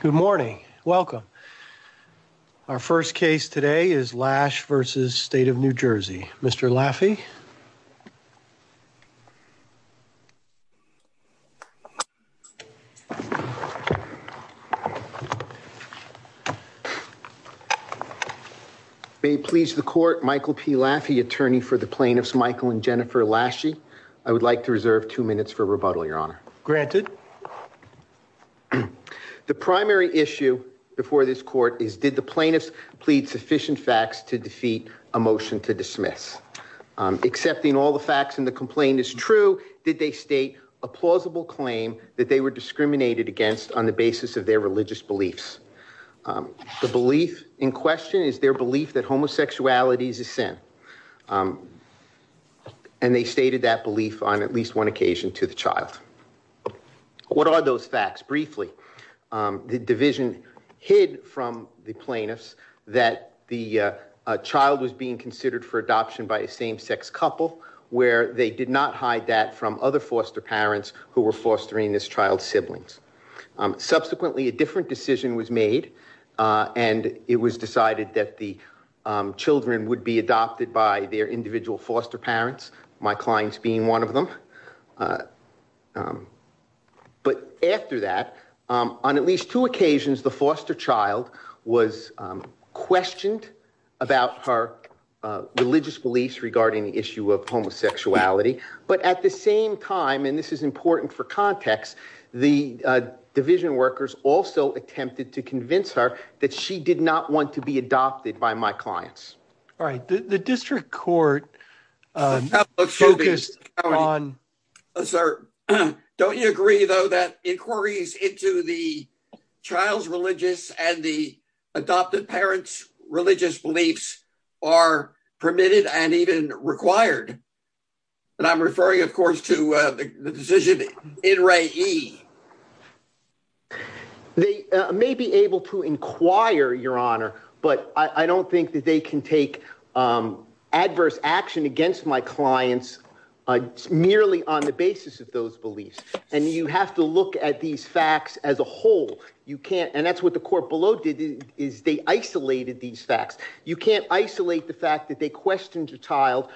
Good morning. Welcome. Our first case today is Lasche v. State of New Jersey. Mr. Laffey. May it please the court, Michael P. Laffey, attorney for the plaintiffs Michael and Jennifer Lasche. I would like to reserve two minutes for rebuttal, your honor. Granted. The primary issue before this court is did the plaintiffs plead sufficient facts to defeat a motion to dismiss? Accepting all the facts in the complaint is true. Did they state a plausible claim that they were discriminated against on the basis of their religious beliefs? The belief in question is their belief that homosexuality is a sin. And they stated that belief on at least one occasion to the child. What are those facts? Briefly, the division hid from the plaintiffs that the child was being considered for adoption by a same-sex couple where they did not hide that from other foster parents who were fostering this child's siblings. Subsequently, a different decision was made and it was decided that the children would be adopted by their individual foster parents, my clients being one of them. But after that, on at least two occasions, the foster child was questioned about her religious beliefs regarding the issue of homosexuality. But at the same time, and this is important for context, the division workers also attempted to convince her that she did not want to be adopted by my clients. All right. The district court focused on. Sir, don't you agree, though, that inquiries into the child's religious and the adopted parents' religious beliefs are permitted and even required? And I'm referring, of course, to the decision in Ray E. They may be able to inquire, Your Honor, but I don't think that they can take adverse action against my clients merely on the basis of those beliefs. And you have to look at these facts as a whole. You can't. And that's what the court below did is they isolated these facts. You can't isolate the fact that they questioned your child.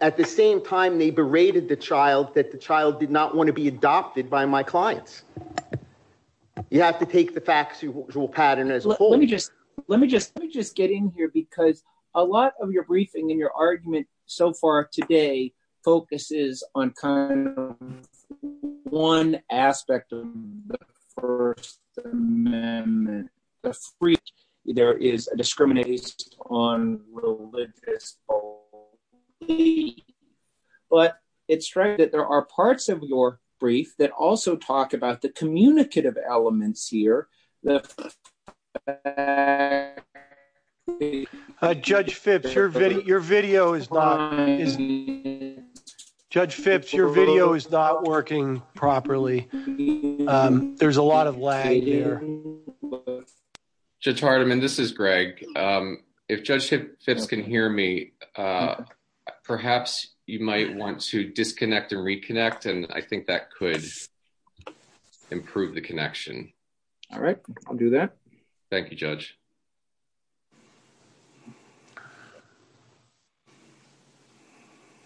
At the same time, they berated the clients. You have to take the facts as a whole. Let me just let me just let me just get in here, because a lot of your briefing in your argument so far today focuses on one aspect of the First Amendment. There is a discrimination on religious. But it's right that there are parts of your also talk about the communicative elements here. Judge Phipps, your video is not Judge Phipps, your video is not working properly. There's a lot of lag here. Judge Hardiman, this is Greg. If Judge Phipps can hear me, perhaps you might want to disconnect and reconnect. And I think that could improve the connection. All right, I'll do that. Thank you, Judge.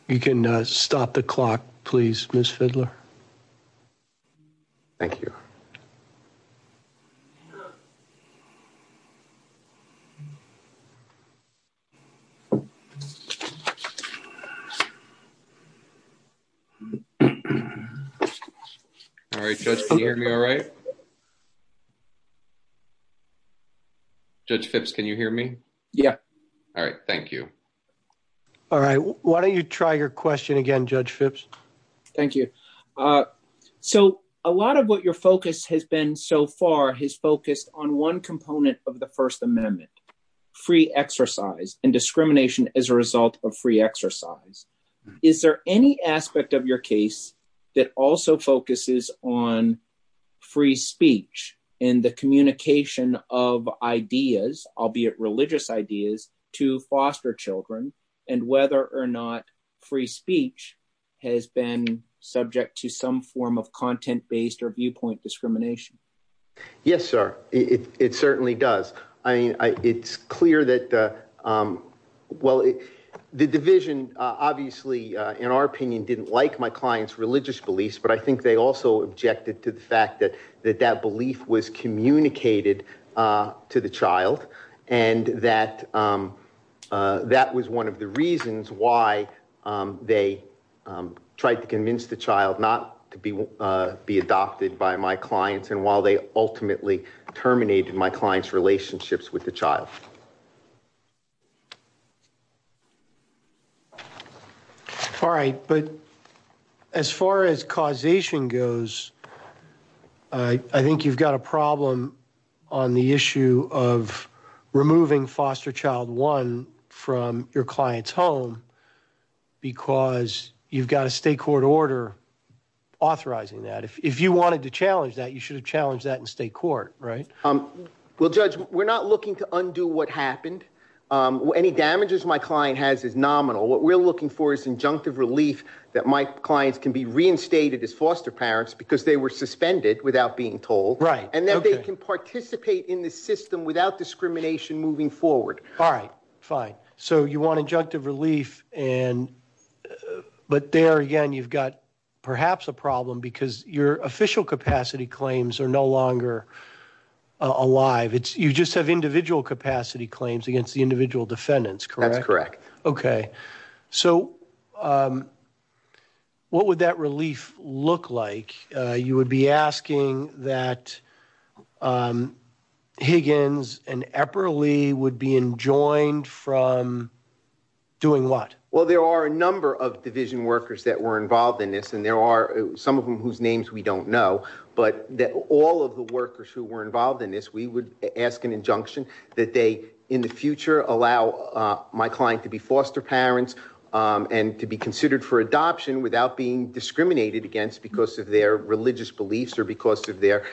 You can stop the clock, please, Ms. Fidler. Thank you. All right, Judge, can you hear me all right? Judge Phipps, can you hear me? Yeah. All right. Thank you. All right. Why don't you try your question again, Judge Phipps? Thank you. So a lot of what your focus has been so far has focused on one component of the First Amendment, free exercise and discrimination as a result of free exercise. Is there any aspect of your case that also focuses on free speech and the communication of ideas, albeit religious ideas, to foster children, and whether or not free speech has been subject to some form of content-based or viewpoint discrimination? Yes, sir, it certainly does. I mean, it's clear that, well, the Division, obviously, in our opinion, didn't like my client's religious beliefs, but I think they also objected to the fact that that belief was communicated to the child, and that that was one of the reasons why they tried to convince the child not to be adopted by my clients, and while they ultimately terminated my client's relationships with the child. All right, but as far as causation goes, I think you've got a problem on the issue of because you've got a state court order authorizing that. If you wanted to challenge that, you should have challenged that in state court, right? Well, Judge, we're not looking to undo what happened. Any damages my client has is nominal. What we're looking for is injunctive relief that my clients can be reinstated as foster parents because they were suspended without being told, and that they can participate in the system without discrimination moving forward. All right, fine. So you want injunctive relief, but there, again, you've got perhaps a problem because your official capacity claims are no longer alive. You just have individual capacity claims against the individual defendants, correct? That's correct. Okay, so what would that relief look like? You would be asking that Higgins and Epperle would be enjoined from doing what? Well, there are a number of division workers that were involved in this, and there are some of them whose names we don't know, but all of the workers who were involved in this, we would ask an injunction that they, in the future, allow my client to be foster parents and to be considered for adoption without being discriminated against because of their religious beliefs or because of their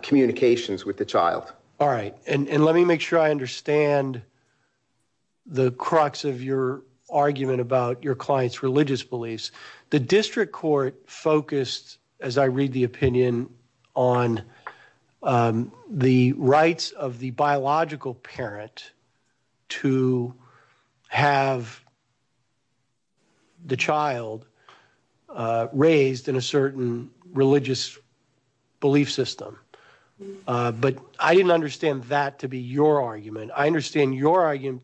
communications with the child. All right, and let me make sure I understand the crux of your argument about your client's religious beliefs. The district court focused, as I read the opinion, on the rights of the biological parent to have the child raised in a certain religious belief system, but I didn't understand that to be your argument. I understand your argument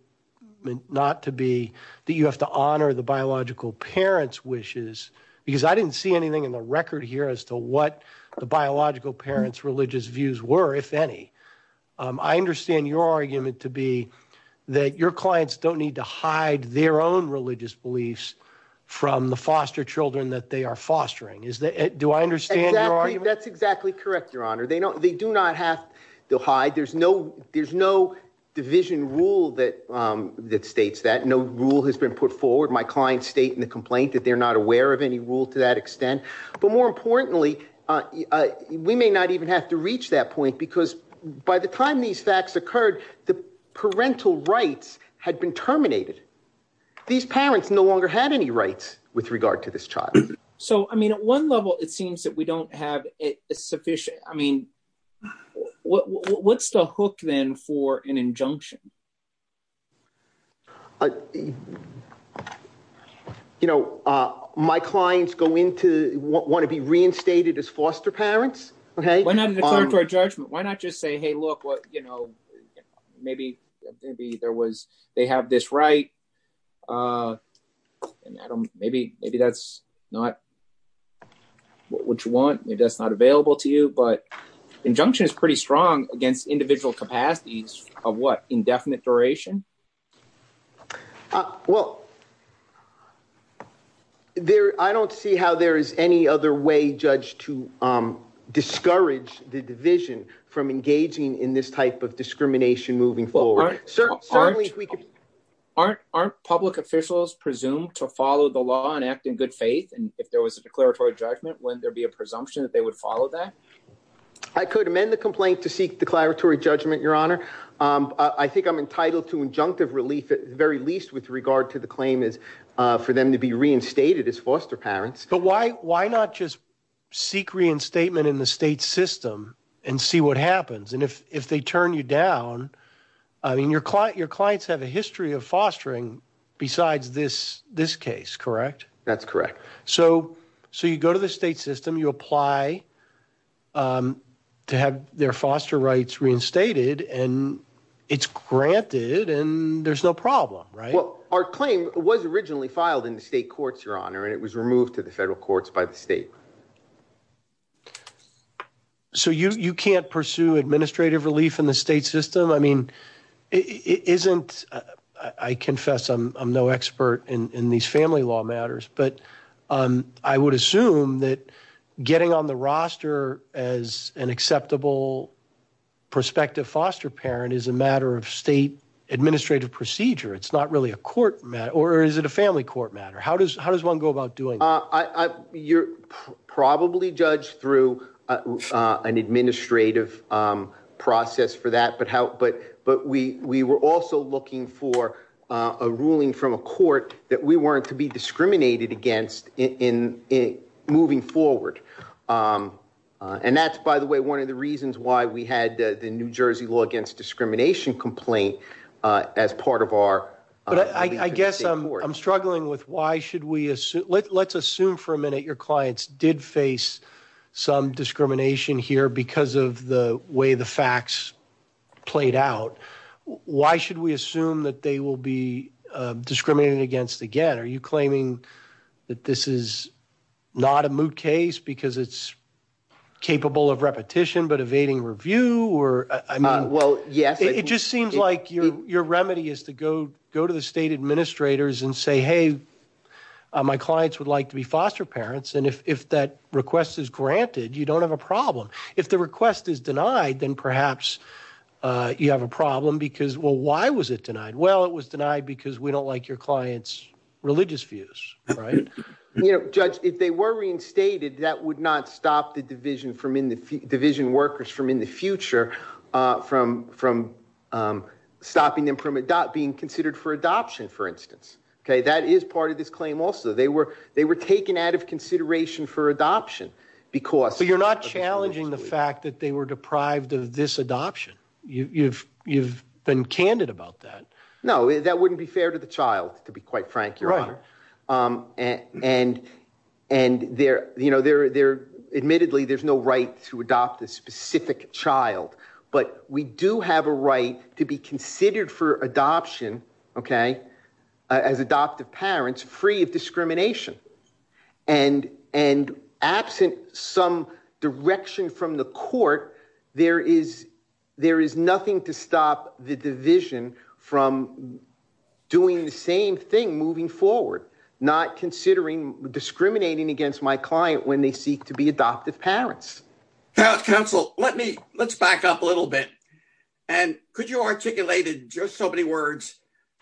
not to be that you have to honor the biological parent's wishes because I didn't see anything in the record here as to what the biological parent's religious views were, if any. I understand your argument to be that your clients don't need to hide their own religious beliefs from the foster children that they are fostering. Do I understand your argument? That's exactly correct, Your Honor. They do not have to hide. There's no division rule that states that. No rule has been put forward. My clients state in the complaint that they're not aware of any rule to that extent, but more importantly, we may not even have to reach that point because by the time these facts occurred, the parental rights had been terminated. These parents no longer had any rights with regard to this child. So, I mean, at one level, it seems that we don't have it sufficient. I mean, what's the hook then for an injunction? You know, my clients go into, want to be reinstated as foster parents, okay? Why not declare it to a judgment? Why not just say, hey, look, what, you know, maybe there was, they have this right, and I don't, maybe that's not what you want. Maybe that's not available to you, but injunction is pretty strong against individual capacities of what? Indefinite duration? Well, I don't see how there is any other way, Judge, to discourage the division from engaging in this type of discrimination moving forward. Aren't public officials presumed to follow the law and act in good faith? And if there was a declaratory judgment, wouldn't there be a presumption that they would follow that? I could amend the complaint to seek declaratory judgment, Your Honor. I think I'm entitled to injunctive relief at the very least with regard to the claim for them to be reinstated as foster parents. But why not just seek reinstatement in the state system and see what happens? And if they turn you down, I mean, your clients have a history of fostering besides this case, correct? That's correct. So you go to the state system, you apply to have their foster rights reinstated, and it's granted, and there's no problem, right? Well, our claim was originally filed in the state courts, Your Honor, and it was removed to the federal courts by the state. So you can't pursue administrative relief in the state system? I mean, but I would assume that getting on the roster as an acceptable prospective foster parent is a matter of state administrative procedure. It's not really a court matter, or is it a family court matter? How does one go about doing that? You're probably judged through an administrative process for that, but we were also looking for a ruling from a court that we weren't to be discriminated against in moving forward. And that's, by the way, one of the reasons why we had the New Jersey law against discrimination complaint as part of our... But I guess I'm struggling with why should we assume... Let's assume for a minute your clients did face some discrimination here because of the way the facts played out. Why should we assume that they will be discriminated against again? Are you claiming that this is not a moot case because it's capable of repetition, but evading review? Well, yes. It just seems like your remedy is to go to the state administrators and say, hey, my clients would like to be foster parents. And if that request is granted, you don't have a problem. If the request is denied, then perhaps you have a problem because, well, why was it denied? Well, it was denied because we don't like your clients' religious views, right? You know, Judge, if they were reinstated, that would not stop the division workers from, in the future, from stopping them from being considered for adoption, for instance. Okay, that is part of this claim also. They were taken out of consideration for adoption because... But you're not challenging the fact that they were deprived of this adoption. You've been candid about that. No, that wouldn't be fair to the child, to be quite frank, Your Honor. Admittedly, there's no right to adopt a specific child, but we do have a right to be considered for adoption, okay, as adoptive parents, free of nothing to stop the division from doing the same thing moving forward, not considering discriminating against my client when they seek to be adoptive parents. Counsel, let's back up a little bit. And could you articulate in just so many words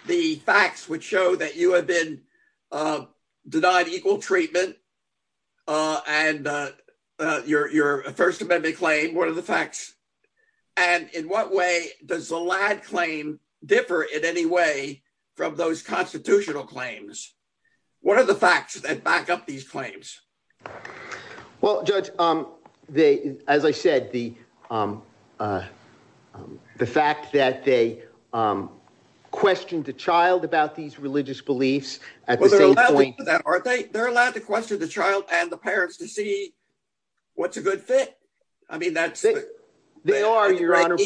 the facts which show that you have been denied equal treatment and your First Amendment claim, what are the facts? And in what way does the Ladd claim differ in any way from those constitutional claims? What are the facts that back up these claims? Well, Judge, as I said, the fact that they questioned the child about these religious beliefs at the same point... Well, they're allowed to do that, aren't they? They're allowed to question the child and the parents to see what's a good fit. I mean, that's... They are, Your Honor.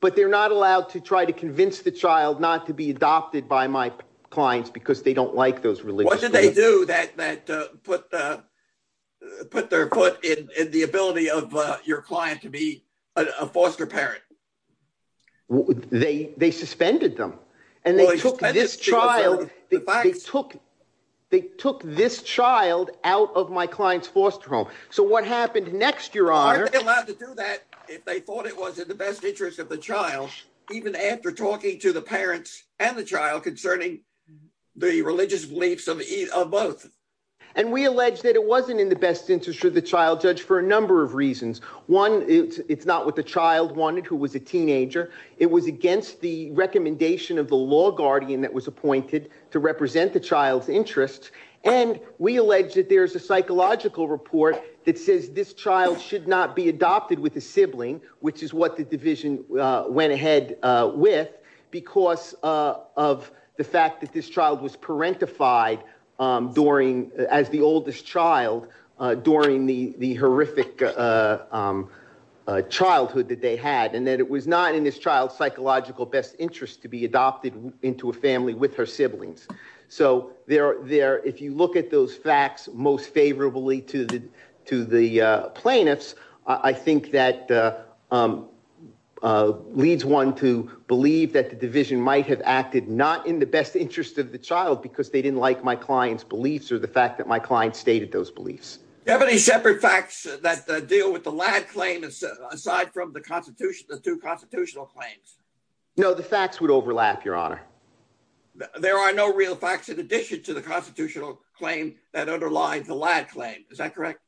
But they're not allowed to try to convince the child not to be adopted by my clients because they don't like those religious beliefs. What did they do that put their foot in the ability of your client to be a foster parent? They suspended them. And they took this child out of my client's foster home. So what happened next, Your Honor? Aren't they allowed to do that if they thought it was in the best interest of the child, even after talking to the parents and the child concerning the religious beliefs of both? And we allege that it wasn't in the best interest of the child, Judge, for a number of reasons. One, it's not what the child wanted, who was a teenager. It was against the recommendation of the law guardian that was appointed to represent the child's interests. And we allege that there's a psychological report that says this child should not be adopted with a sibling, which is what the division went ahead with, because of the fact that this child was parentified as the oldest child during the horrific childhood that they had, and that it was not in this child's psychological best interest to be adopted into a family with her siblings. So if you look at those facts most favorably to the plaintiffs, I think that leads one to believe that the division might have acted not in the best interest of the child because they didn't like my client's beliefs or the fact that my client stated those beliefs. Do you have any separate facts that deal with the Ladd claim, aside from the two constitutional claims? No, the facts would overlap, Your Honor. There are no real facts in addition to the constitutional claim that underlies the Ladd claim. Is that correct?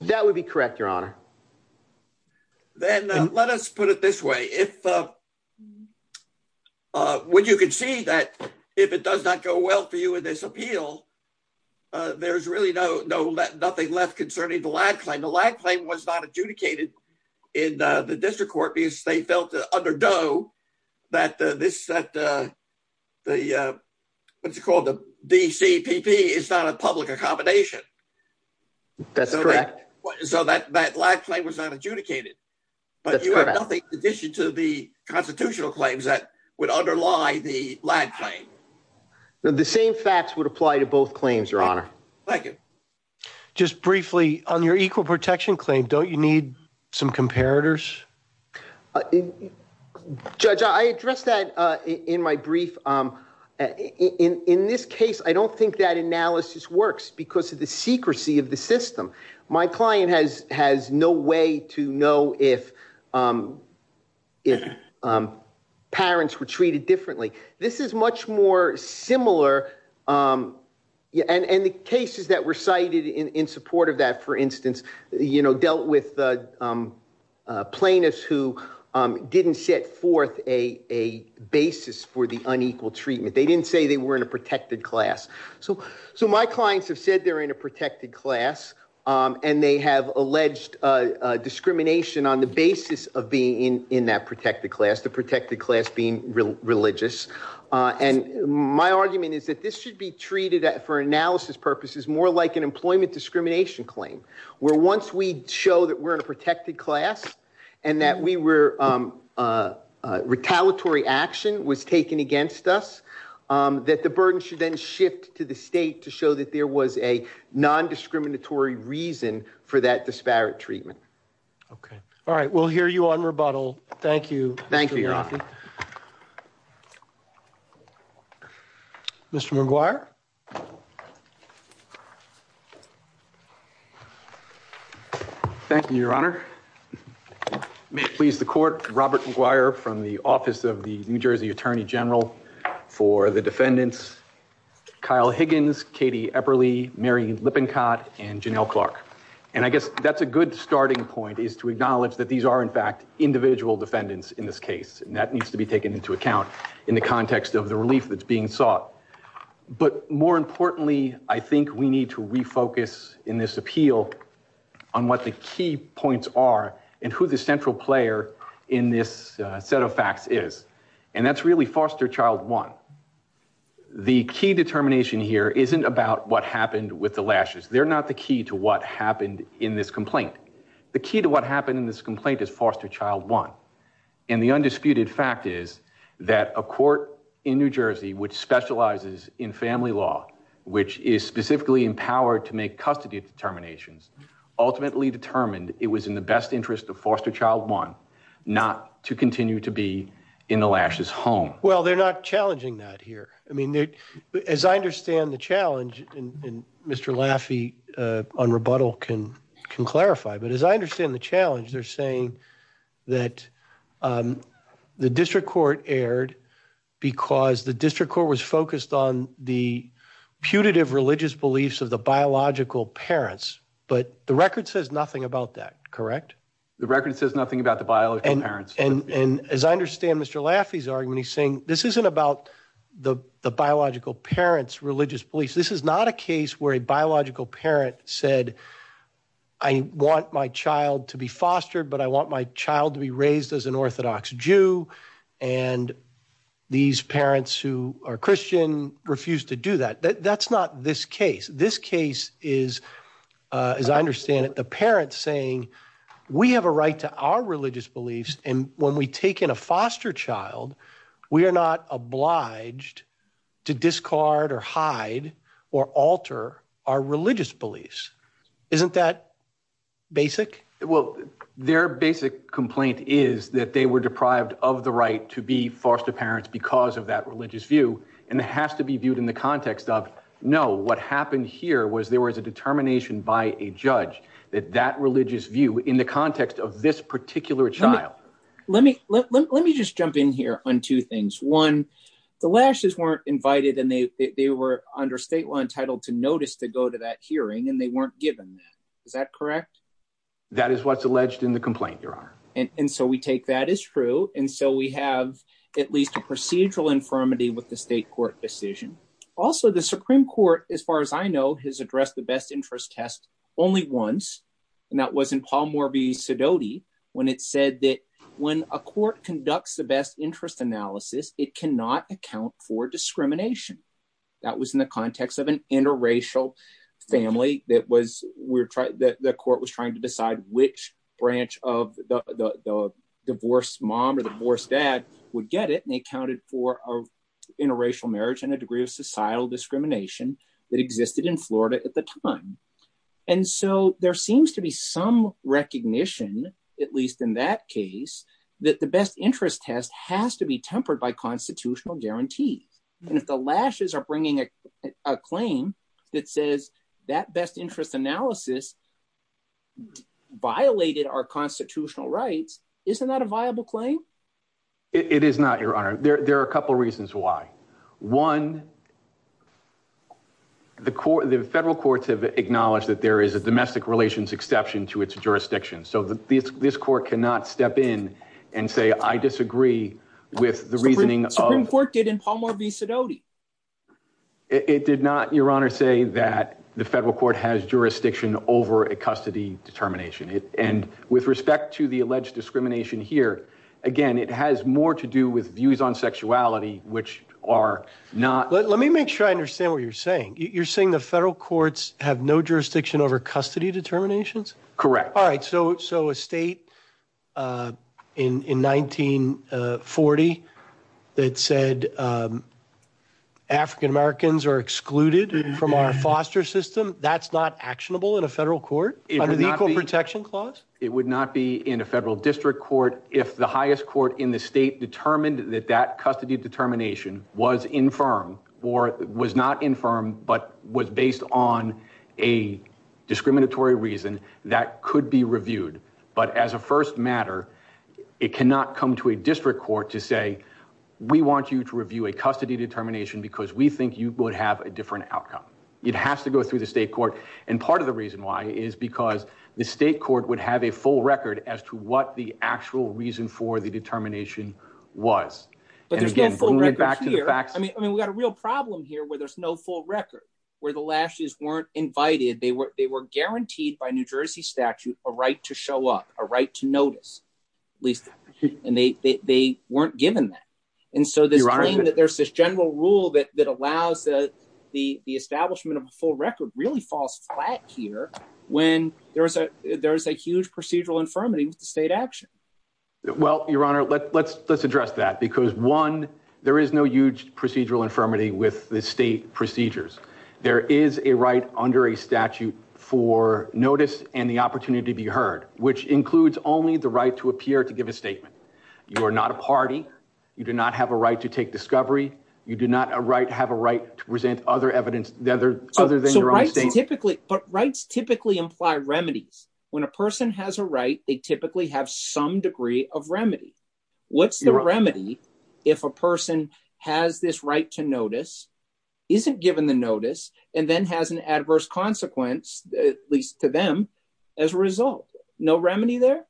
That would be correct, Your Honor. Then let us put it this way. When you can see that if it does not go well for you in this appeal, there's really nothing left concerning the Ladd claim. The Ladd claim was not adjudicated in the district court because they felt under Doe that the DCPP is not a public accommodation. That's correct. So that Ladd claim was not adjudicated. That's correct. But you have nothing in addition to the constitutional claims that would underlie the Ladd claim. The same facts would apply to both claims, Your Honor. Thank you. Just briefly, on your equal protection claim, don't you need some comparators? Judge, I addressed that in my brief. In this case, I don't think that analysis works because of the secrecy of the system. My client has no way to know if parents were treated differently. This is much more similar. And the cases that were cited in support of that, for instance, dealt with plaintiffs who didn't set forth a basis for the unequal treatment. They didn't say they were in a protected class. So my clients have said they're in a protected class, and they have alleged discrimination on the basis of being in that protected class, the protected class being religious. And my argument is that this should be treated, for analysis purposes, more like an employment discrimination claim, where once we show that we're in a protected class and that retaliatory action was taken against us, that the burden should then shift to the state to show that there was a non-discriminatory reason for that disparate treatment. Okay. All right. We'll hear you on rebuttal. Thank you. Thank you, Your Honor. Mr. McGuire? Thank you, Your Honor. May it please the Court, Robert McGuire from the Office of the New Jersey Attorney General for the Defendants Kyle Higgins, Katie Epperle, Mary Lippincott, and Janelle Clark. And I guess that's a good starting point, is to acknowledge that these are, in fact, individual defendants in this case, and that needs to be taken into account in the context of the relief that's being sought. But more importantly, I think we need to refocus in this appeal on what the key points are and who the central player in this set of facts is. And that's really foster child one. The key determination here isn't about what happened with the lashes. They're not the key to what happened in this complaint. The key to what happened in this complaint is foster child one. And the undisputed fact is that a court in New Jersey which specializes in family law, which is specifically empowered to make custody determinations, ultimately determined it was in the best interest of foster child one not to continue to be in the lashes home. Well, they're not challenging that here. As I understand the challenge, and Mr. Laffey on rebuttal can clarify, but as I understand the challenge, they're saying that the district court erred because the district court was focused on the putative religious beliefs of the biological parents. But the record says nothing about that, correct? The record says nothing about the biological parents. And as I understand Mr. Laffey's argument, he's saying this isn't about the biological parents' religious beliefs. This is not a case where a biological parent said, I want my child to be fostered, but I want my child to be raised as an Orthodox Jew. And these parents who are Christian refuse to do that. That's not this case. This case is, as I understand it, the parents saying, we have a right to our religious beliefs. And when we take in a foster child, we are not obliged to discard or hide or alter our religious beliefs. Isn't that basic? Well, their basic complaint is that they were deprived of the right to be foster parents because of that religious view. And it has to be viewed in the context of, no, what happened here was there was a in the context of this particular child. Let me just jump in here on two things. One, the Lashes weren't invited and they were under state law entitled to notice to go to that hearing and they weren't given that. Is that correct? That is what's alleged in the complaint, Your Honor. And so we take that as true. And so we have at least a procedural infirmity with the state court decision. Also, the Supreme Court, as far as I know, has addressed the best interest test only once. And that was in Paul Morby's Sedoti when it said that when a court conducts the best interest analysis, it cannot account for discrimination. That was in the context of an interracial family that was we're trying that the court was trying to decide which branch of the divorced mom or divorced dad would get it. And they counted for interracial marriage and a degree of societal discrimination that existed in Florida at the time. And so there seems to be some recognition, at least in that case, that the best interest test has to be tempered by constitutional guarantees. And if the Lashes are bringing a claim that says that best interest analysis violated our constitutional rights, isn't that a viable claim? It is not, Your Honor. There are a couple of reasons why. One, the federal courts have acknowledged that there is a domestic relations exception to its jurisdiction. So this court cannot step in and say, I disagree with the reasoning. Supreme Court did in Paul Morby's Sedoti. It did not, Your Honor, say that the federal court has jurisdiction over a custody determination. And with respect to the alleged discrimination here, again, it has more to do with views on sexuality, which are not. Let me make sure I understand what you're saying. You're saying the federal courts have no jurisdiction over custody determinations? Correct. All right. So a state in 1940 that said African-Americans are excluded from our foster system, that's not actionable in a federal court under the Equal Protection Clause? It would not be in a federal district court if the highest court in the state determined that that custody determination was infirm or was not infirm, but was based on a discriminatory reason that could be reviewed. But as a first matter, it cannot come to a district court to say, we want you to review a custody determination because we think you would have a different outcome. It has to go through the state court. And part of the reason why is because the state court would have a full record as to what the actual reason for the determination was. But there's no full record here. I mean, we've got a real problem here where there's no full record, where the lashes weren't invited. They were guaranteed by New Jersey statute a right to show up, a right to notice, at least. And they weren't given that. And so this claim that there's this general rule that allows the establishment of a full Well, Your Honor, let's address that because one, there is no huge procedural infirmity with the state procedures. There is a right under a statute for notice and the opportunity to be heard, which includes only the right to appear to give a statement. You are not a party. You do not have a right to take discovery. You do not have a right to present other evidence other than your own statement. But rights typically imply remedies. When a person has a right, they typically have some degree of remedy. What's the remedy if a person has this right to notice, isn't given the notice, and then has an adverse consequence, at least to them, as a result? No remedy there?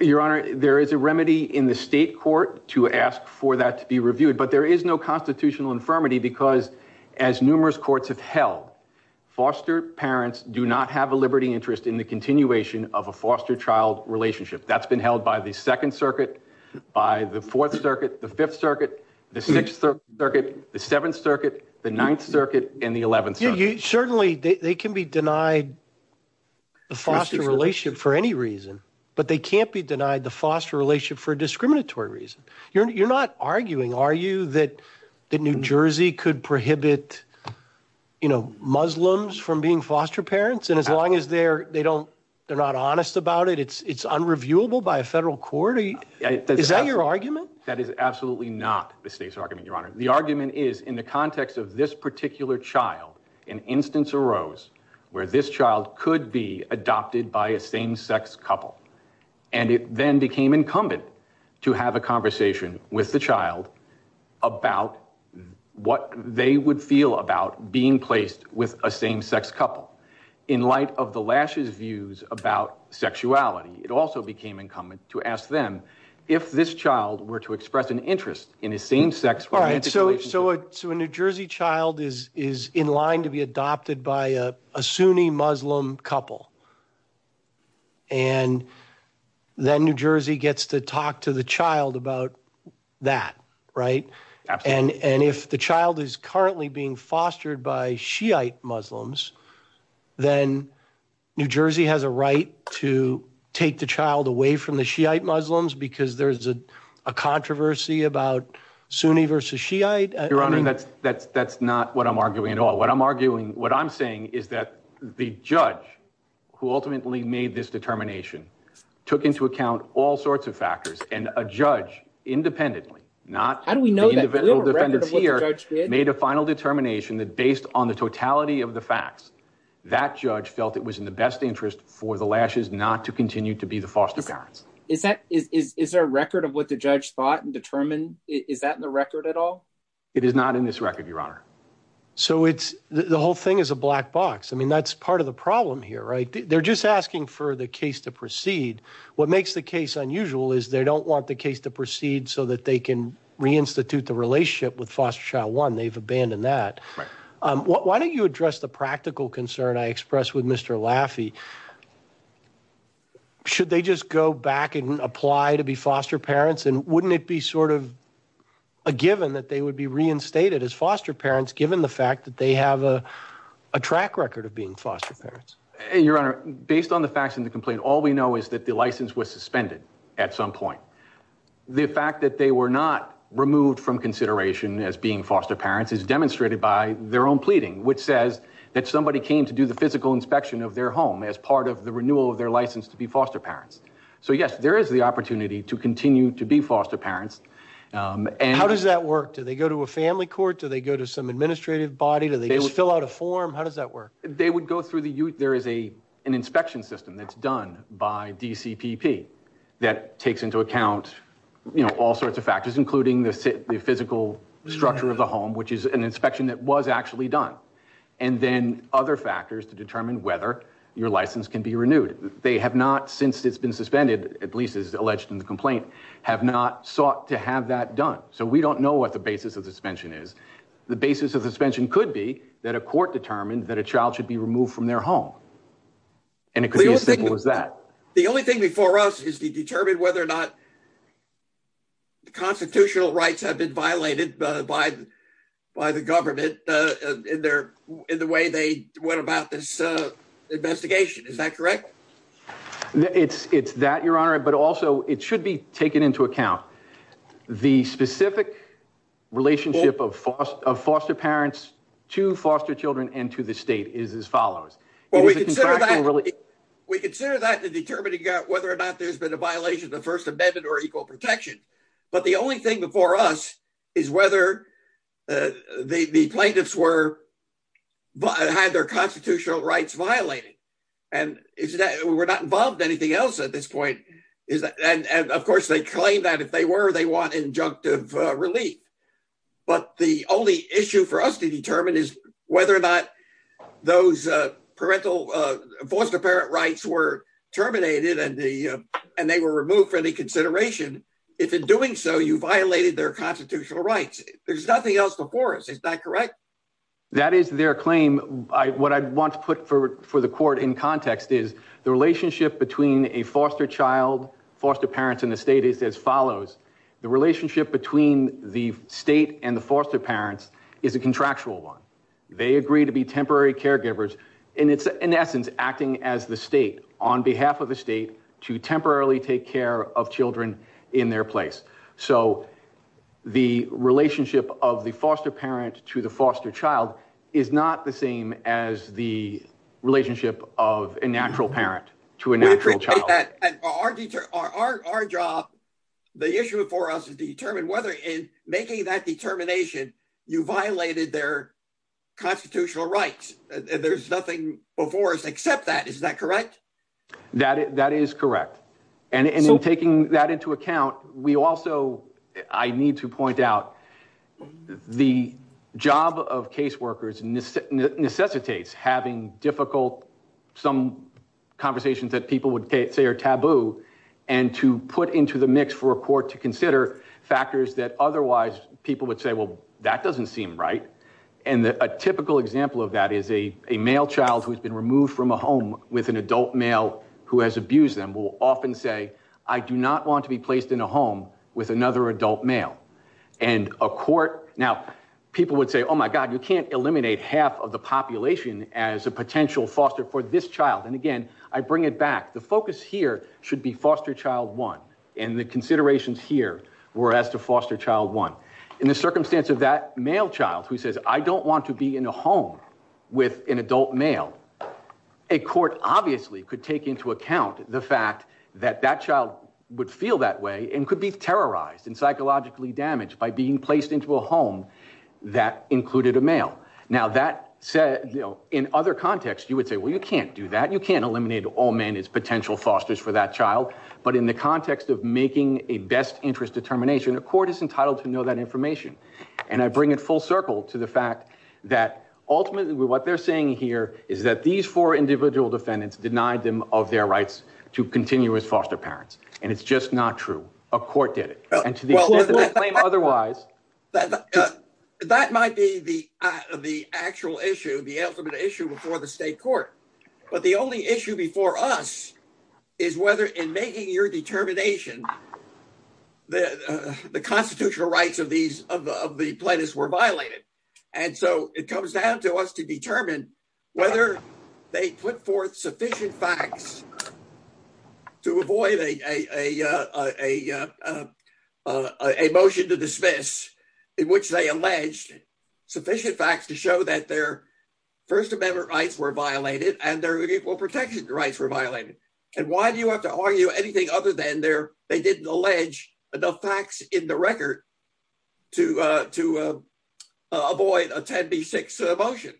Your Honor, there is a remedy in the state court to ask for that to be reviewed, but there is no constitutional infirmity because as numerous courts have held, foster parents do not have a liberty interest in the continuation of a foster child relationship. That's been held by the Second Circuit, by the Fourth Circuit, the Fifth Circuit, the Sixth Circuit, the Seventh Circuit, the Ninth Circuit, and the Eleventh Circuit. Certainly, they can be denied the foster relationship for any reason, but they can't be denied the foster relationship for a discriminatory reason. You're not arguing, are you, that New Jersey could prohibit, you know, Muslims from being foster parents, and as long as they don't, they're not honest about it, it's unreviewable by a federal court? Is that your argument? That is absolutely not the state's argument, Your Honor. The argument is, in the context of this particular child, an instance arose where this child could be adopted by a same-sex couple, and it then became incumbent to have a conversation with the child about what they would feel about being placed with a same-sex couple. In light of the Lash's views about sexuality, it also became incumbent to ask them if this child were to express an interest in a same-sex romantic relationship. So a New Jersey child is in line to be adopted by a Sunni Muslim couple, and then New Jersey gets to talk to the child about that, right? Absolutely. And if the child is currently being fostered by Shiite Muslims, then New Jersey has a right to take the child away from the Shiite Muslims because there's a controversy about Sunni versus Shiite? Your Honor, that's not what I'm arguing at all. What I'm saying is that the judge who ultimately made this determination took into account all sorts of factors, and a judge independently, not the individual defendants here, made a final determination that based on the totality of the facts, that judge felt it was in the best interest for the Lashes not to continue to be the foster parents. Is there a record of what the judge thought and determined? Is that in the record at all? It is not in this record, Your Honor. So the whole thing is a black box. I mean, that's part of the problem here, right? They're just asking for the case to proceed. What makes the case unusual is they don't want the case to proceed so that they can reinstitute the relationship with foster child one. They've abandoned that. Why don't you address the practical concern I expressed with Mr. Laffey? Should they just go back and apply to be foster parents? And wouldn't it be sort of a given that they would be reinstated as foster parents, given the fact that they have a track record of being foster parents? Your Honor, based on the facts in the complaint, all we know is that the license was suspended at some point. The fact that they were not removed from consideration as being foster parents is demonstrated by their own pleading, which says that somebody came to do the physical inspection of their home as part of the renewal of their license to be foster parents. So, yes, there is the opportunity to continue to be foster parents. How does that work? Do they go to a family court? Do they go to some administrative body? Do they just fill out a form? How does that work? They would go through the youth. There is an inspection system that's done by DCPP that takes into account all sorts of factors, including the physical structure of the home, which is an inspection that was actually done, and then other factors to determine whether your license can be renewed. They have not, since it's been suspended, at least as alleged in the complaint, have not sought to have that done. So we don't know what the basis of suspension is. The basis of suspension could be that a court determined that a child should be removed from their home, and it could be as simple as that. The only thing before us is to determine whether or not the constitutional rights have been violated by the government in the way they went about this investigation. Is that correct? It's that, Your Honor, but also it should be taken into account. The specific relationship of foster parents to foster children and to the state is as follows. Well, we consider that to determine whether or not there's been a violation of the First Amendment or equal protection, but the only thing before us is whether the plaintiffs had their constitutional rights violated. We're not involved in anything else at this point. And of course, they claim that if they were, they want injunctive relief. But the only issue for us to determine is whether or not those foster parent rights were terminated and they were removed for any consideration. If in doing so, you violated their constitutional rights. There's nothing else before us. Is that correct? That is their claim. What I want to put for the court in context is the relationship between a foster child, foster parents in the state is as follows. The relationship between the state and the foster parents is a contractual one. They agree to be temporary caregivers. And it's, in essence, acting as the state on behalf of the state to temporarily take care of children in their place. So the relationship of the foster parent to the foster child is not the same as the relationship of a natural parent to a natural child. And our job, the issue for us is to determine whether in making that determination you violated their constitutional rights. There's nothing before us except that. Is that correct? That is correct. And in taking that into account, I need to point out the job of caseworkers necessitates having difficult, some conversations that people would say are taboo, and to put into the mix for a court to consider factors that otherwise people would say, well, that doesn't seem right. And a typical example of that is a male child who has been removed from a home with an adult male who has abused them will often say, I do not want to be placed in a home with another adult male. And a court, now, people would say, oh, my God, you can't eliminate half of the population as a potential foster for this child. And again, I bring it back. The focus here should be foster child one. And the considerations here were as to foster child one. In the circumstance of that male child who says, I don't want to be in a home with an adult male, a court obviously could take into account the fact that that child would feel that way and could be terrorized and psychologically damaged by being placed into a home that included a male. Now, that said, in other contexts, you would say, well, you can't do that. You can't eliminate all men as potential fosters for that child. But in the context of making a best interest determination, a court is entitled to know that information. And I bring it full circle to the fact that ultimately what they're saying here is that these four individual defendants denied them of their rights to continue as foster parents. And it's just not true. A court did it. And to the extent that they claim otherwise. That might be the actual issue, the ultimate issue before the state court. But the only issue before us is whether in making your determination, the constitutional rights of the plaintiffs were violated. And so it comes down to us to determine whether they put forth sufficient facts to avoid a motion to dismiss in which they alleged sufficient facts to show that their First Amendment rights were violated and their equal protection rights were violated. And why do you have to argue anything other than they didn't allege enough facts in the avoid a 10B6 motion?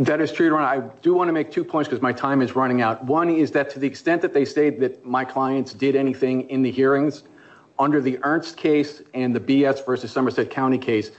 That is true. I do want to make two points because my time is running out. One is that to the extent that they say that my clients did anything in the hearings under the Ernst case and the BS versus Somerset County case,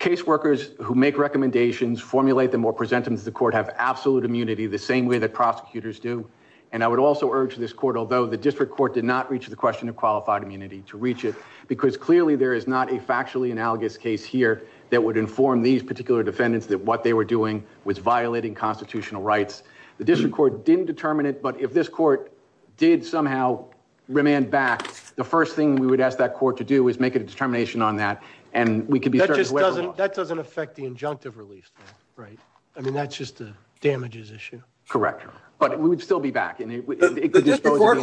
caseworkers who make recommendations formulate them or present them to the court have absolute immunity the same way that prosecutors do. And I would also urge this court, although the district court did not reach the question of qualified immunity to reach it, because clearly there is not a factually analogous case here that would inform these particular defendants that what they were doing was violating constitutional rights. The district court didn't determine it. But if this court did somehow remand back, the first thing we would ask that court to do is make a determination on that. And we could be that just doesn't that doesn't affect the injunctive release. Right. I mean, that's just a damages issue. Correct. But we would still be back in the court.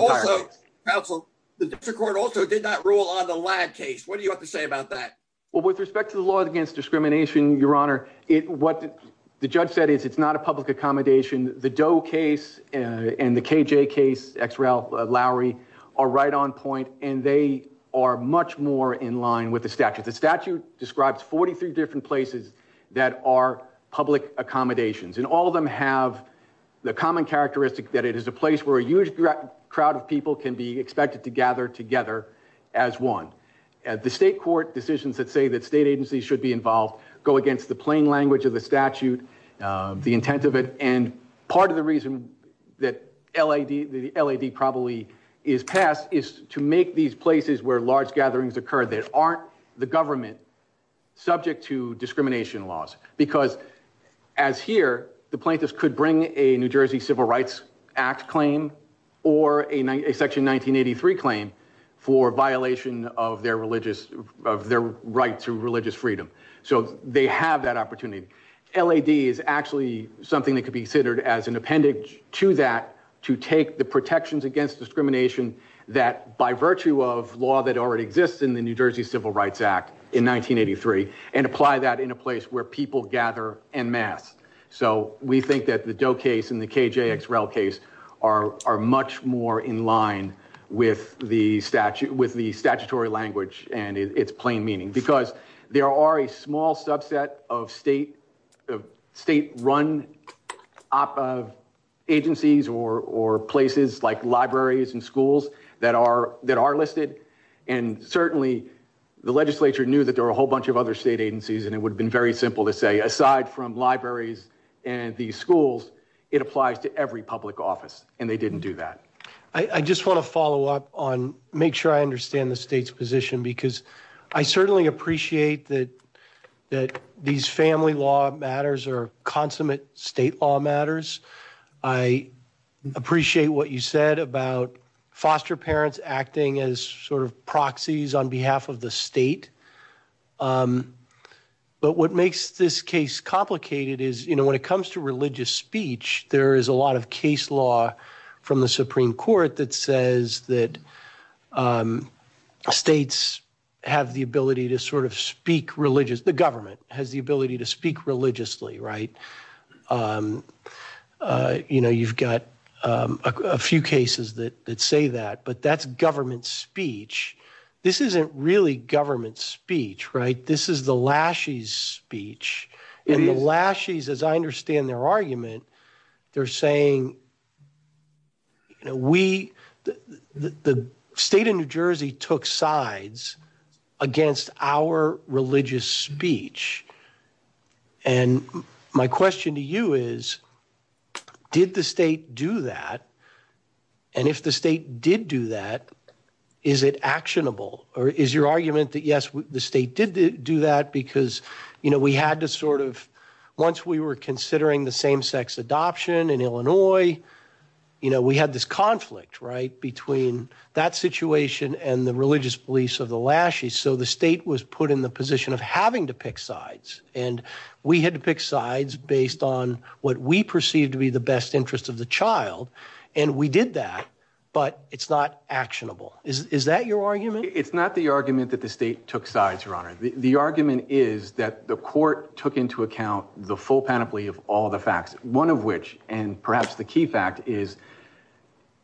Also, the court also did not rule on the lab case. What do you have to say about that? Well, with respect to the law against discrimination, your honor, what the judge said is it's not a public accommodation. The Doe case and the K.J. case, Lowry are right on point, and they are much more in line with the statute. The statute describes 43 different places that are public accommodations, and all of them have the common characteristic that it is a place where a huge crowd of people can be expected to gather together as one. The state court decisions that say that state agencies should be involved go against the plain language of the statute, the intent of it. And part of the reason that L.A.D. probably is passed is to make these places where large gatherings occur that aren't the government subject to discrimination laws. Because as here, the plaintiffs could bring a New Jersey Civil Rights Act claim or a section 1983 claim for violation of their religious, of their right to religious freedom. So they have that opportunity. L.A.D. is actually something that could be considered as an appendage to that to take the protections against discrimination that, by virtue of law that already exists in the New Jersey Civil Rights Act in 1983, and apply that in a place where people gather en masse. So we think that the Doe case and the KJX Rel case are much more in line with the statutory language and its plain meaning. Because there are a small subset of state-run agencies or places like libraries and schools that are listed, and certainly the legislature knew that there were a whole bunch of other agencies, and it would have been very simple to say, aside from libraries and these schools, it applies to every public office. And they didn't do that. I just want to follow up on make sure I understand the state's position, because I certainly appreciate that these family law matters are consummate state law matters. I appreciate what you said about foster parents acting as sort of proxies on behalf of the state, but what makes this case complicated is, you know, when it comes to religious speech, there is a lot of case law from the Supreme Court that says that states have the ability to sort of speak religiously. The government has the ability to speak religiously, right? You know, you've got a few cases that say that, but that's government speech. This isn't really government speech, right? This is the Lashies' speech. And the Lashies', as I understand their argument, they're saying, you know, we, the state of New Jersey took sides against our religious speech. And my question to you is, did the state do that? And if the state did do that, is it actionable? Or is your argument that, yes, the state did do that because, you know, we had to sort of, once we were considering the same-sex adoption in Illinois, you know, we had this conflict, right, between that situation and the religious beliefs of the Lashies', so the state was put in the position of having to pick sides. And we had to pick sides based on what we perceived to be the best interest of the child, and we did that, but it's not actionable. Is that your argument? It's not the argument that the state took sides, Your Honor. The argument is that the court took into account the full panoply of all the facts, one of which, and perhaps the key fact, is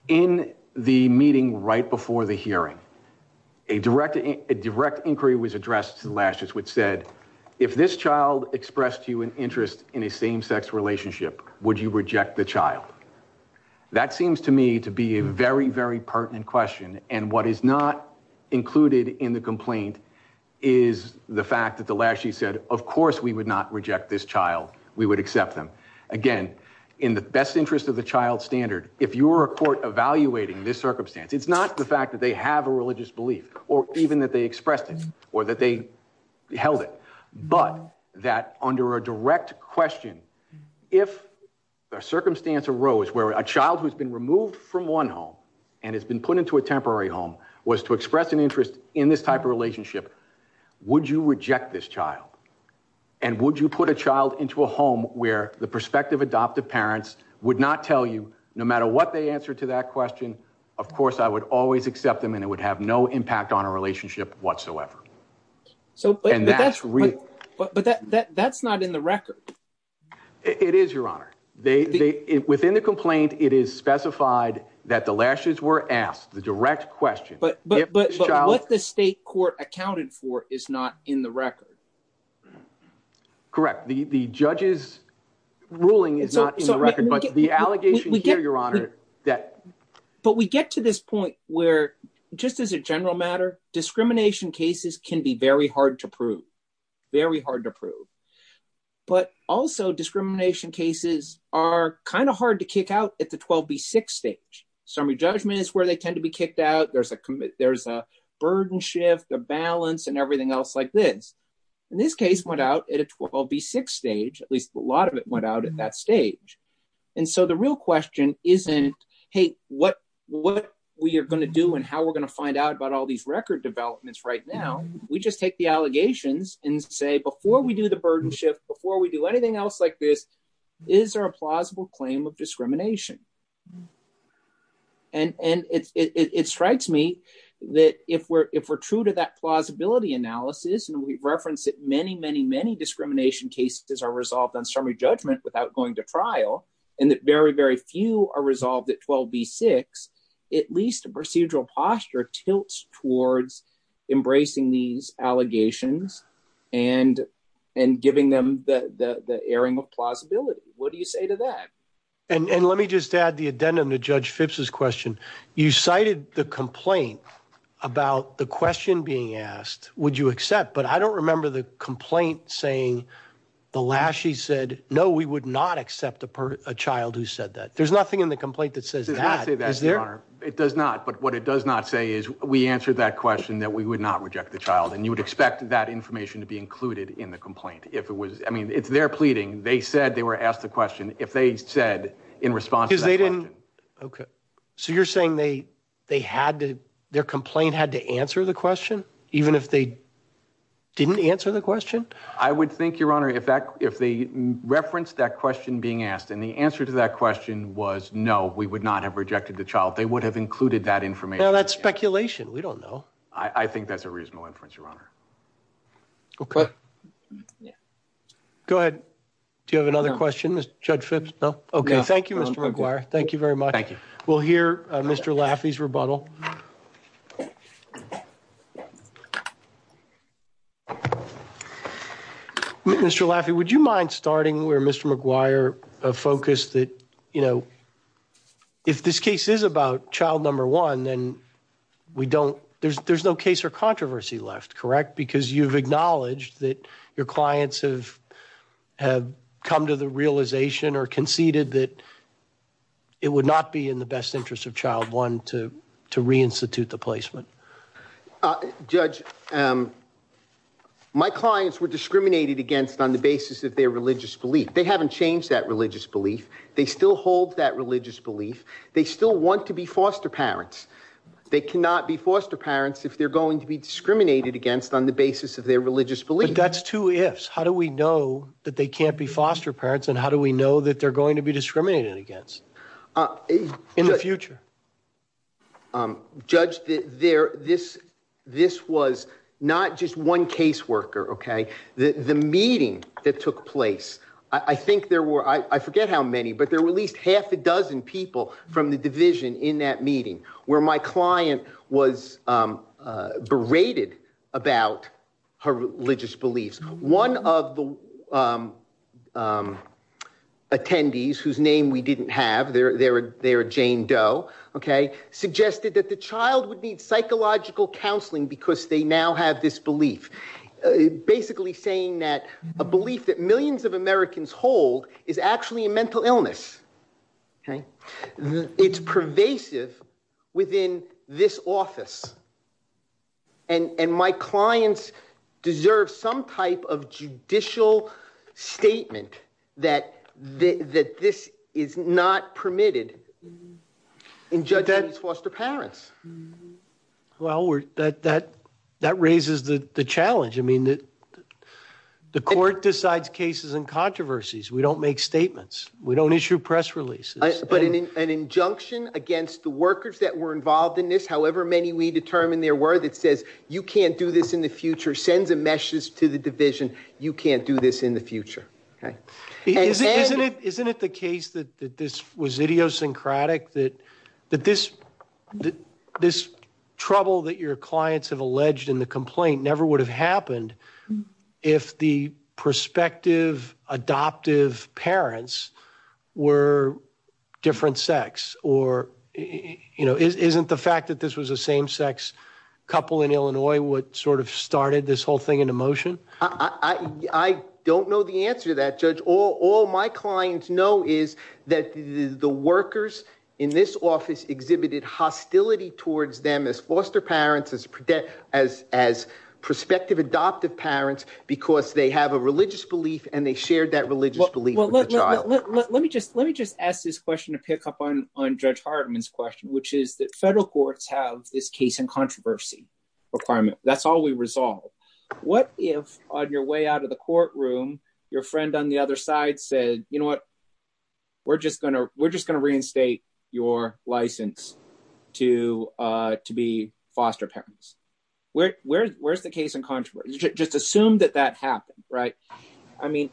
in the meeting right before the hearing, a direct inquiry was addressed to the Lashies' which said, if this child expressed to you an interest in a same-sex relationship, would you reject the child? That seems to me to be a very, very pertinent question. And what is not included in the complaint is the fact that the Lashies' said, of course we would not reject this child. We would accept them. Again, in the best interest of the child standard, if you were a court evaluating this circumstance, it's not the fact that they have a religious belief or even that they expressed it or that they held it, but that under a direct question, if a circumstance arose where a child who's been removed from one home and has been put into a temporary home was to express an interest in this type of relationship, would you reject this child? And would you put a child into a home where the prospective adoptive parents would not tell you, no matter what they answer to that question, of course I would always accept them and it would have no impact on a relationship whatsoever. But that's not in the record. It is, Your Honor. Within the complaint, it is specified that the Lashies' were asked the direct question. But what the state court accounted for is not in the record. Correct. The judge's ruling is not in the record, but the allegation here, Your Honor, that... Just as a general matter, discrimination cases can be very hard to prove. Very hard to prove. But also, discrimination cases are kind of hard to kick out at the 12B6 stage. Summary judgment is where they tend to be kicked out. There's a burden shift, a balance, and everything else like this. And this case went out at a 12B6 stage, at least a lot of it went out at that stage. And so the real question isn't, hey, what we are going to do and how we're going to find out about all these record developments right now. We just take the allegations and say, before we do the burden shift, before we do anything else like this, is there a plausible claim of discrimination? And it strikes me that if we're true to that plausibility analysis, and we've referenced that many, many, many discrimination cases are resolved on summary judgment without going to trial, and that very, very few are resolved at 12B6, at least a procedural posture tilts towards embracing these allegations and giving them the airing of plausibility. What do you say to that? And let me just add the addendum to Judge Phipps's question. You cited the complaint about the question being asked, would you accept? But I don't remember the complaint saying, the Lashie said, no, we would not accept a child who said that. There's nothing in the complaint that says that. It does not. But what it does not say is we answered that question that we would not reject the child. And you would expect that information to be included in the complaint. If it was, I mean, it's their pleading. They said they were asked the question. If they said in response. Okay. So you're saying they had to, their complaint had to answer the question, even if they didn't answer the question? I would think, Your Honor, if that, if they referenced that question being asked and the answer to that question was no, we would not have rejected the child. They would have included that information. Now that's speculation. We don't know. I think that's a reasonable inference, Your Honor. Okay. Go ahead. Do you have another question, Judge Phipps? No. Okay. Thank you, Mr. McGuire. Thank you very much. Thank you. We'll hear Mr. Laffey's rebuttal. Mr. Laffey, would you mind starting where Mr. McGuire focused that, you know, if this case is about child number one, then we don't, there's, there's no case or controversy left, correct? Because you've acknowledged that your clients have, have come to the realization or conceded that it would not be in the best interest of child one to, to reinstitute the placement. Uh, Judge, um, my clients were discriminated against on the basis of their religious belief. They haven't changed that religious belief. They still hold that religious belief. They still want to be foster parents. They cannot be foster parents if they're going to be discriminated against on the basis of their religious belief. That's two ifs. How do we know that they can't be foster parents and how do we know that they're going to be discriminated against, uh, in the future? Um, Judge, there, this, this was not just one caseworker. Okay. The, the meeting that took place, I think there were, I forget how many, but there were at least half a dozen people from the division in that meeting where my client was, um, uh, berated about her religious beliefs. One of the, um, um, attendees whose name we didn't have, they're, they're, they're Jane Doe. Okay. Suggested that the child would need psychological counseling because they now have this belief, basically saying that a belief that millions of Americans hold is actually a mental illness. Okay. It's pervasive within this office. And, and my clients deserve some type of judicial statement that the, that this is not permitted in judging these foster parents. Well, we're that, that, that raises the challenge. I mean, the, the court decides cases and controversies. We don't make statements. We don't issue press releases. But an injunction against the workers that were involved in this, however many we did determine there were that says you can't do this in the future, sends a message to the division. You can't do this in the future. Okay. Isn't it the case that this was idiosyncratic, that, that this, that this trouble that your clients have alleged in the complaint never would have happened if the prospective adoptive parents were different sex or, you know, isn't the fact that this was a same sex couple in Illinois, what sort of started this whole thing into motion? I don't know the answer to that judge. All my clients know is that the workers in this office exhibited hostility towards them as foster parents, as, as, as prospective adoptive parents, because they have a religious belief and they shared that religious belief. Let me just, let me just ask this question to pick up on, on judge Hartman's question, which is that federal courts have this case and controversy requirement. That's all we resolve. What if on your way out of the courtroom, your friend on the other side said, you know what, we're just going to, we're just going to reinstate your license to, uh, to be foster parents. Where, where, where's the case in controversy? Just assume that that happened, right? I mean,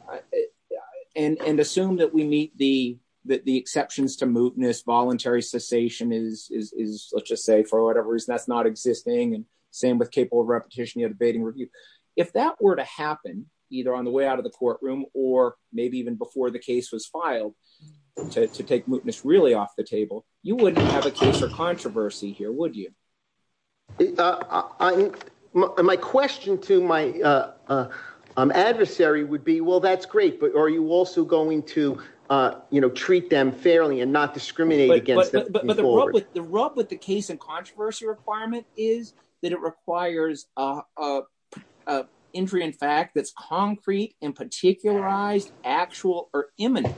and, and assume that we meet the, that the exceptions to mootness voluntary cessation is, is, is let's just say for whatever reason, that's not existing. And same with capable of repetition, you had a baiting review. If that were to happen either on the way out of the courtroom, or maybe even before the case was filed to, to take mootness really off the table, you wouldn't have a case or controversy here, would you? Uh, I, my question to my, uh, uh, um, adversary would be, well, that's great, but are you also going to, uh, you know, treat them fairly and not discriminate against them? The rub with the case and controversy requirement is that it requires, uh, uh, uh, entry in fact that's concrete and particularized actual or imminent.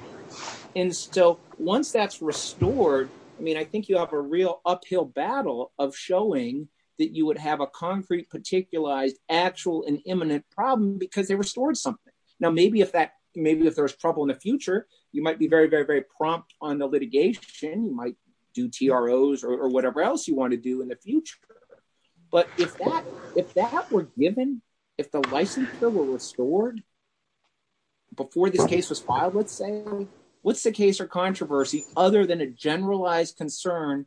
And so once that's restored, I mean, I think you have a real uphill battle of showing that you would have a concrete particularized actual and imminent problem because they restored something. Now, maybe if that, maybe if there was trouble in the future, you might be very, very, very prompt on the litigation. You might do TROs or whatever else you want to do in the future. But if that, if that were given, if the licensure were restored before this case was filed, what's the case or controversy other than a generalized concern?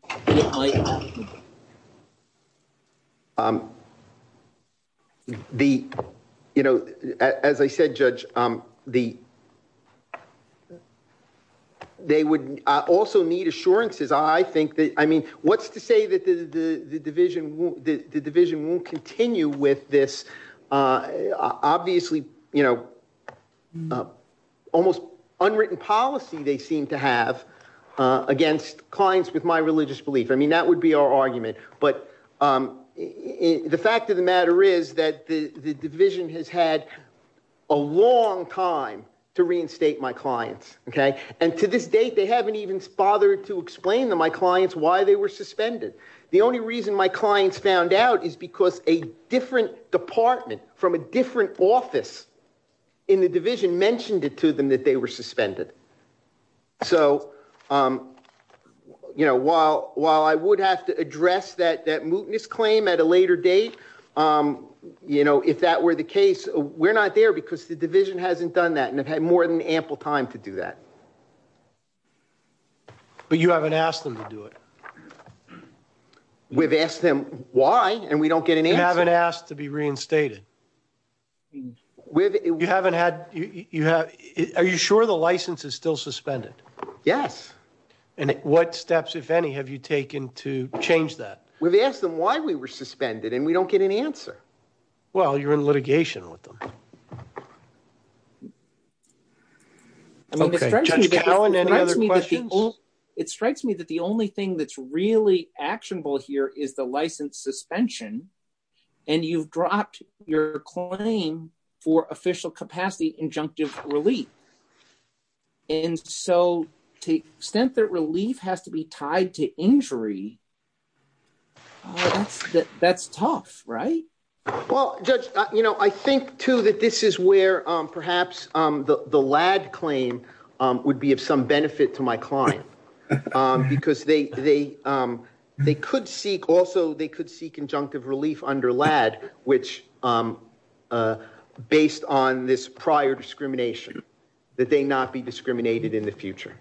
Um, the, you know, as I said, judge, um, the, they would also need assurances. I think that, I mean, what's to say that the division, the division won't continue with this, uh, obviously, you know, uh, almost unwritten policy they seem to have, uh, against clients with my religious belief. I mean, that would be our argument, but, um, the fact of the matter is that the division has had a long time to reinstate my clients. Okay. And to this date, they haven't even bothered to explain to my clients why they were suspended. The only reason my clients found out is because a different department from a different office in the division mentioned it to them that they were suspended. So, um, you know, while, while I would have to address that, that mootness claim at a later date, um, you know, if that were the case, we're not there because the division hasn't done that. And I've had more than ample time to do that. But you haven't asked them to do it. We've asked them why, and we don't get an answer. You haven't asked to be reinstated. We haven't had, you have, are you sure the license is still suspended? Yes. And what steps, if any, have you taken to change that? We've asked them why we were suspended and we don't get an answer. Well, you're in litigation with them. I mean, it strikes me, it strikes me that the only thing that's really actionable here is the license suspension. And you've dropped your claim for official capacity, injunctive relief. And so to the extent that relief has to be tied to injury, that's, that's tough, right? Well, judge, you know, I think too, that this is where, um, perhaps, um, the, the lad claim, um, would be of some benefit to my client, um, because they, they, um, they could seek also, they could seek injunctive relief under lad, which, um, uh, based on this prior discrimination, that they not be discriminated in the future.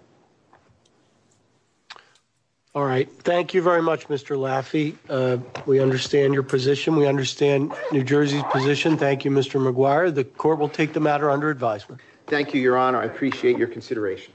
All right. Thank you very much, Mr. Laffey. Uh, we understand your position. We understand New Jersey's position. Thank you, Mr. McGuire. The court will take the matter under advisement. Thank you, your honor. I appreciate your consideration.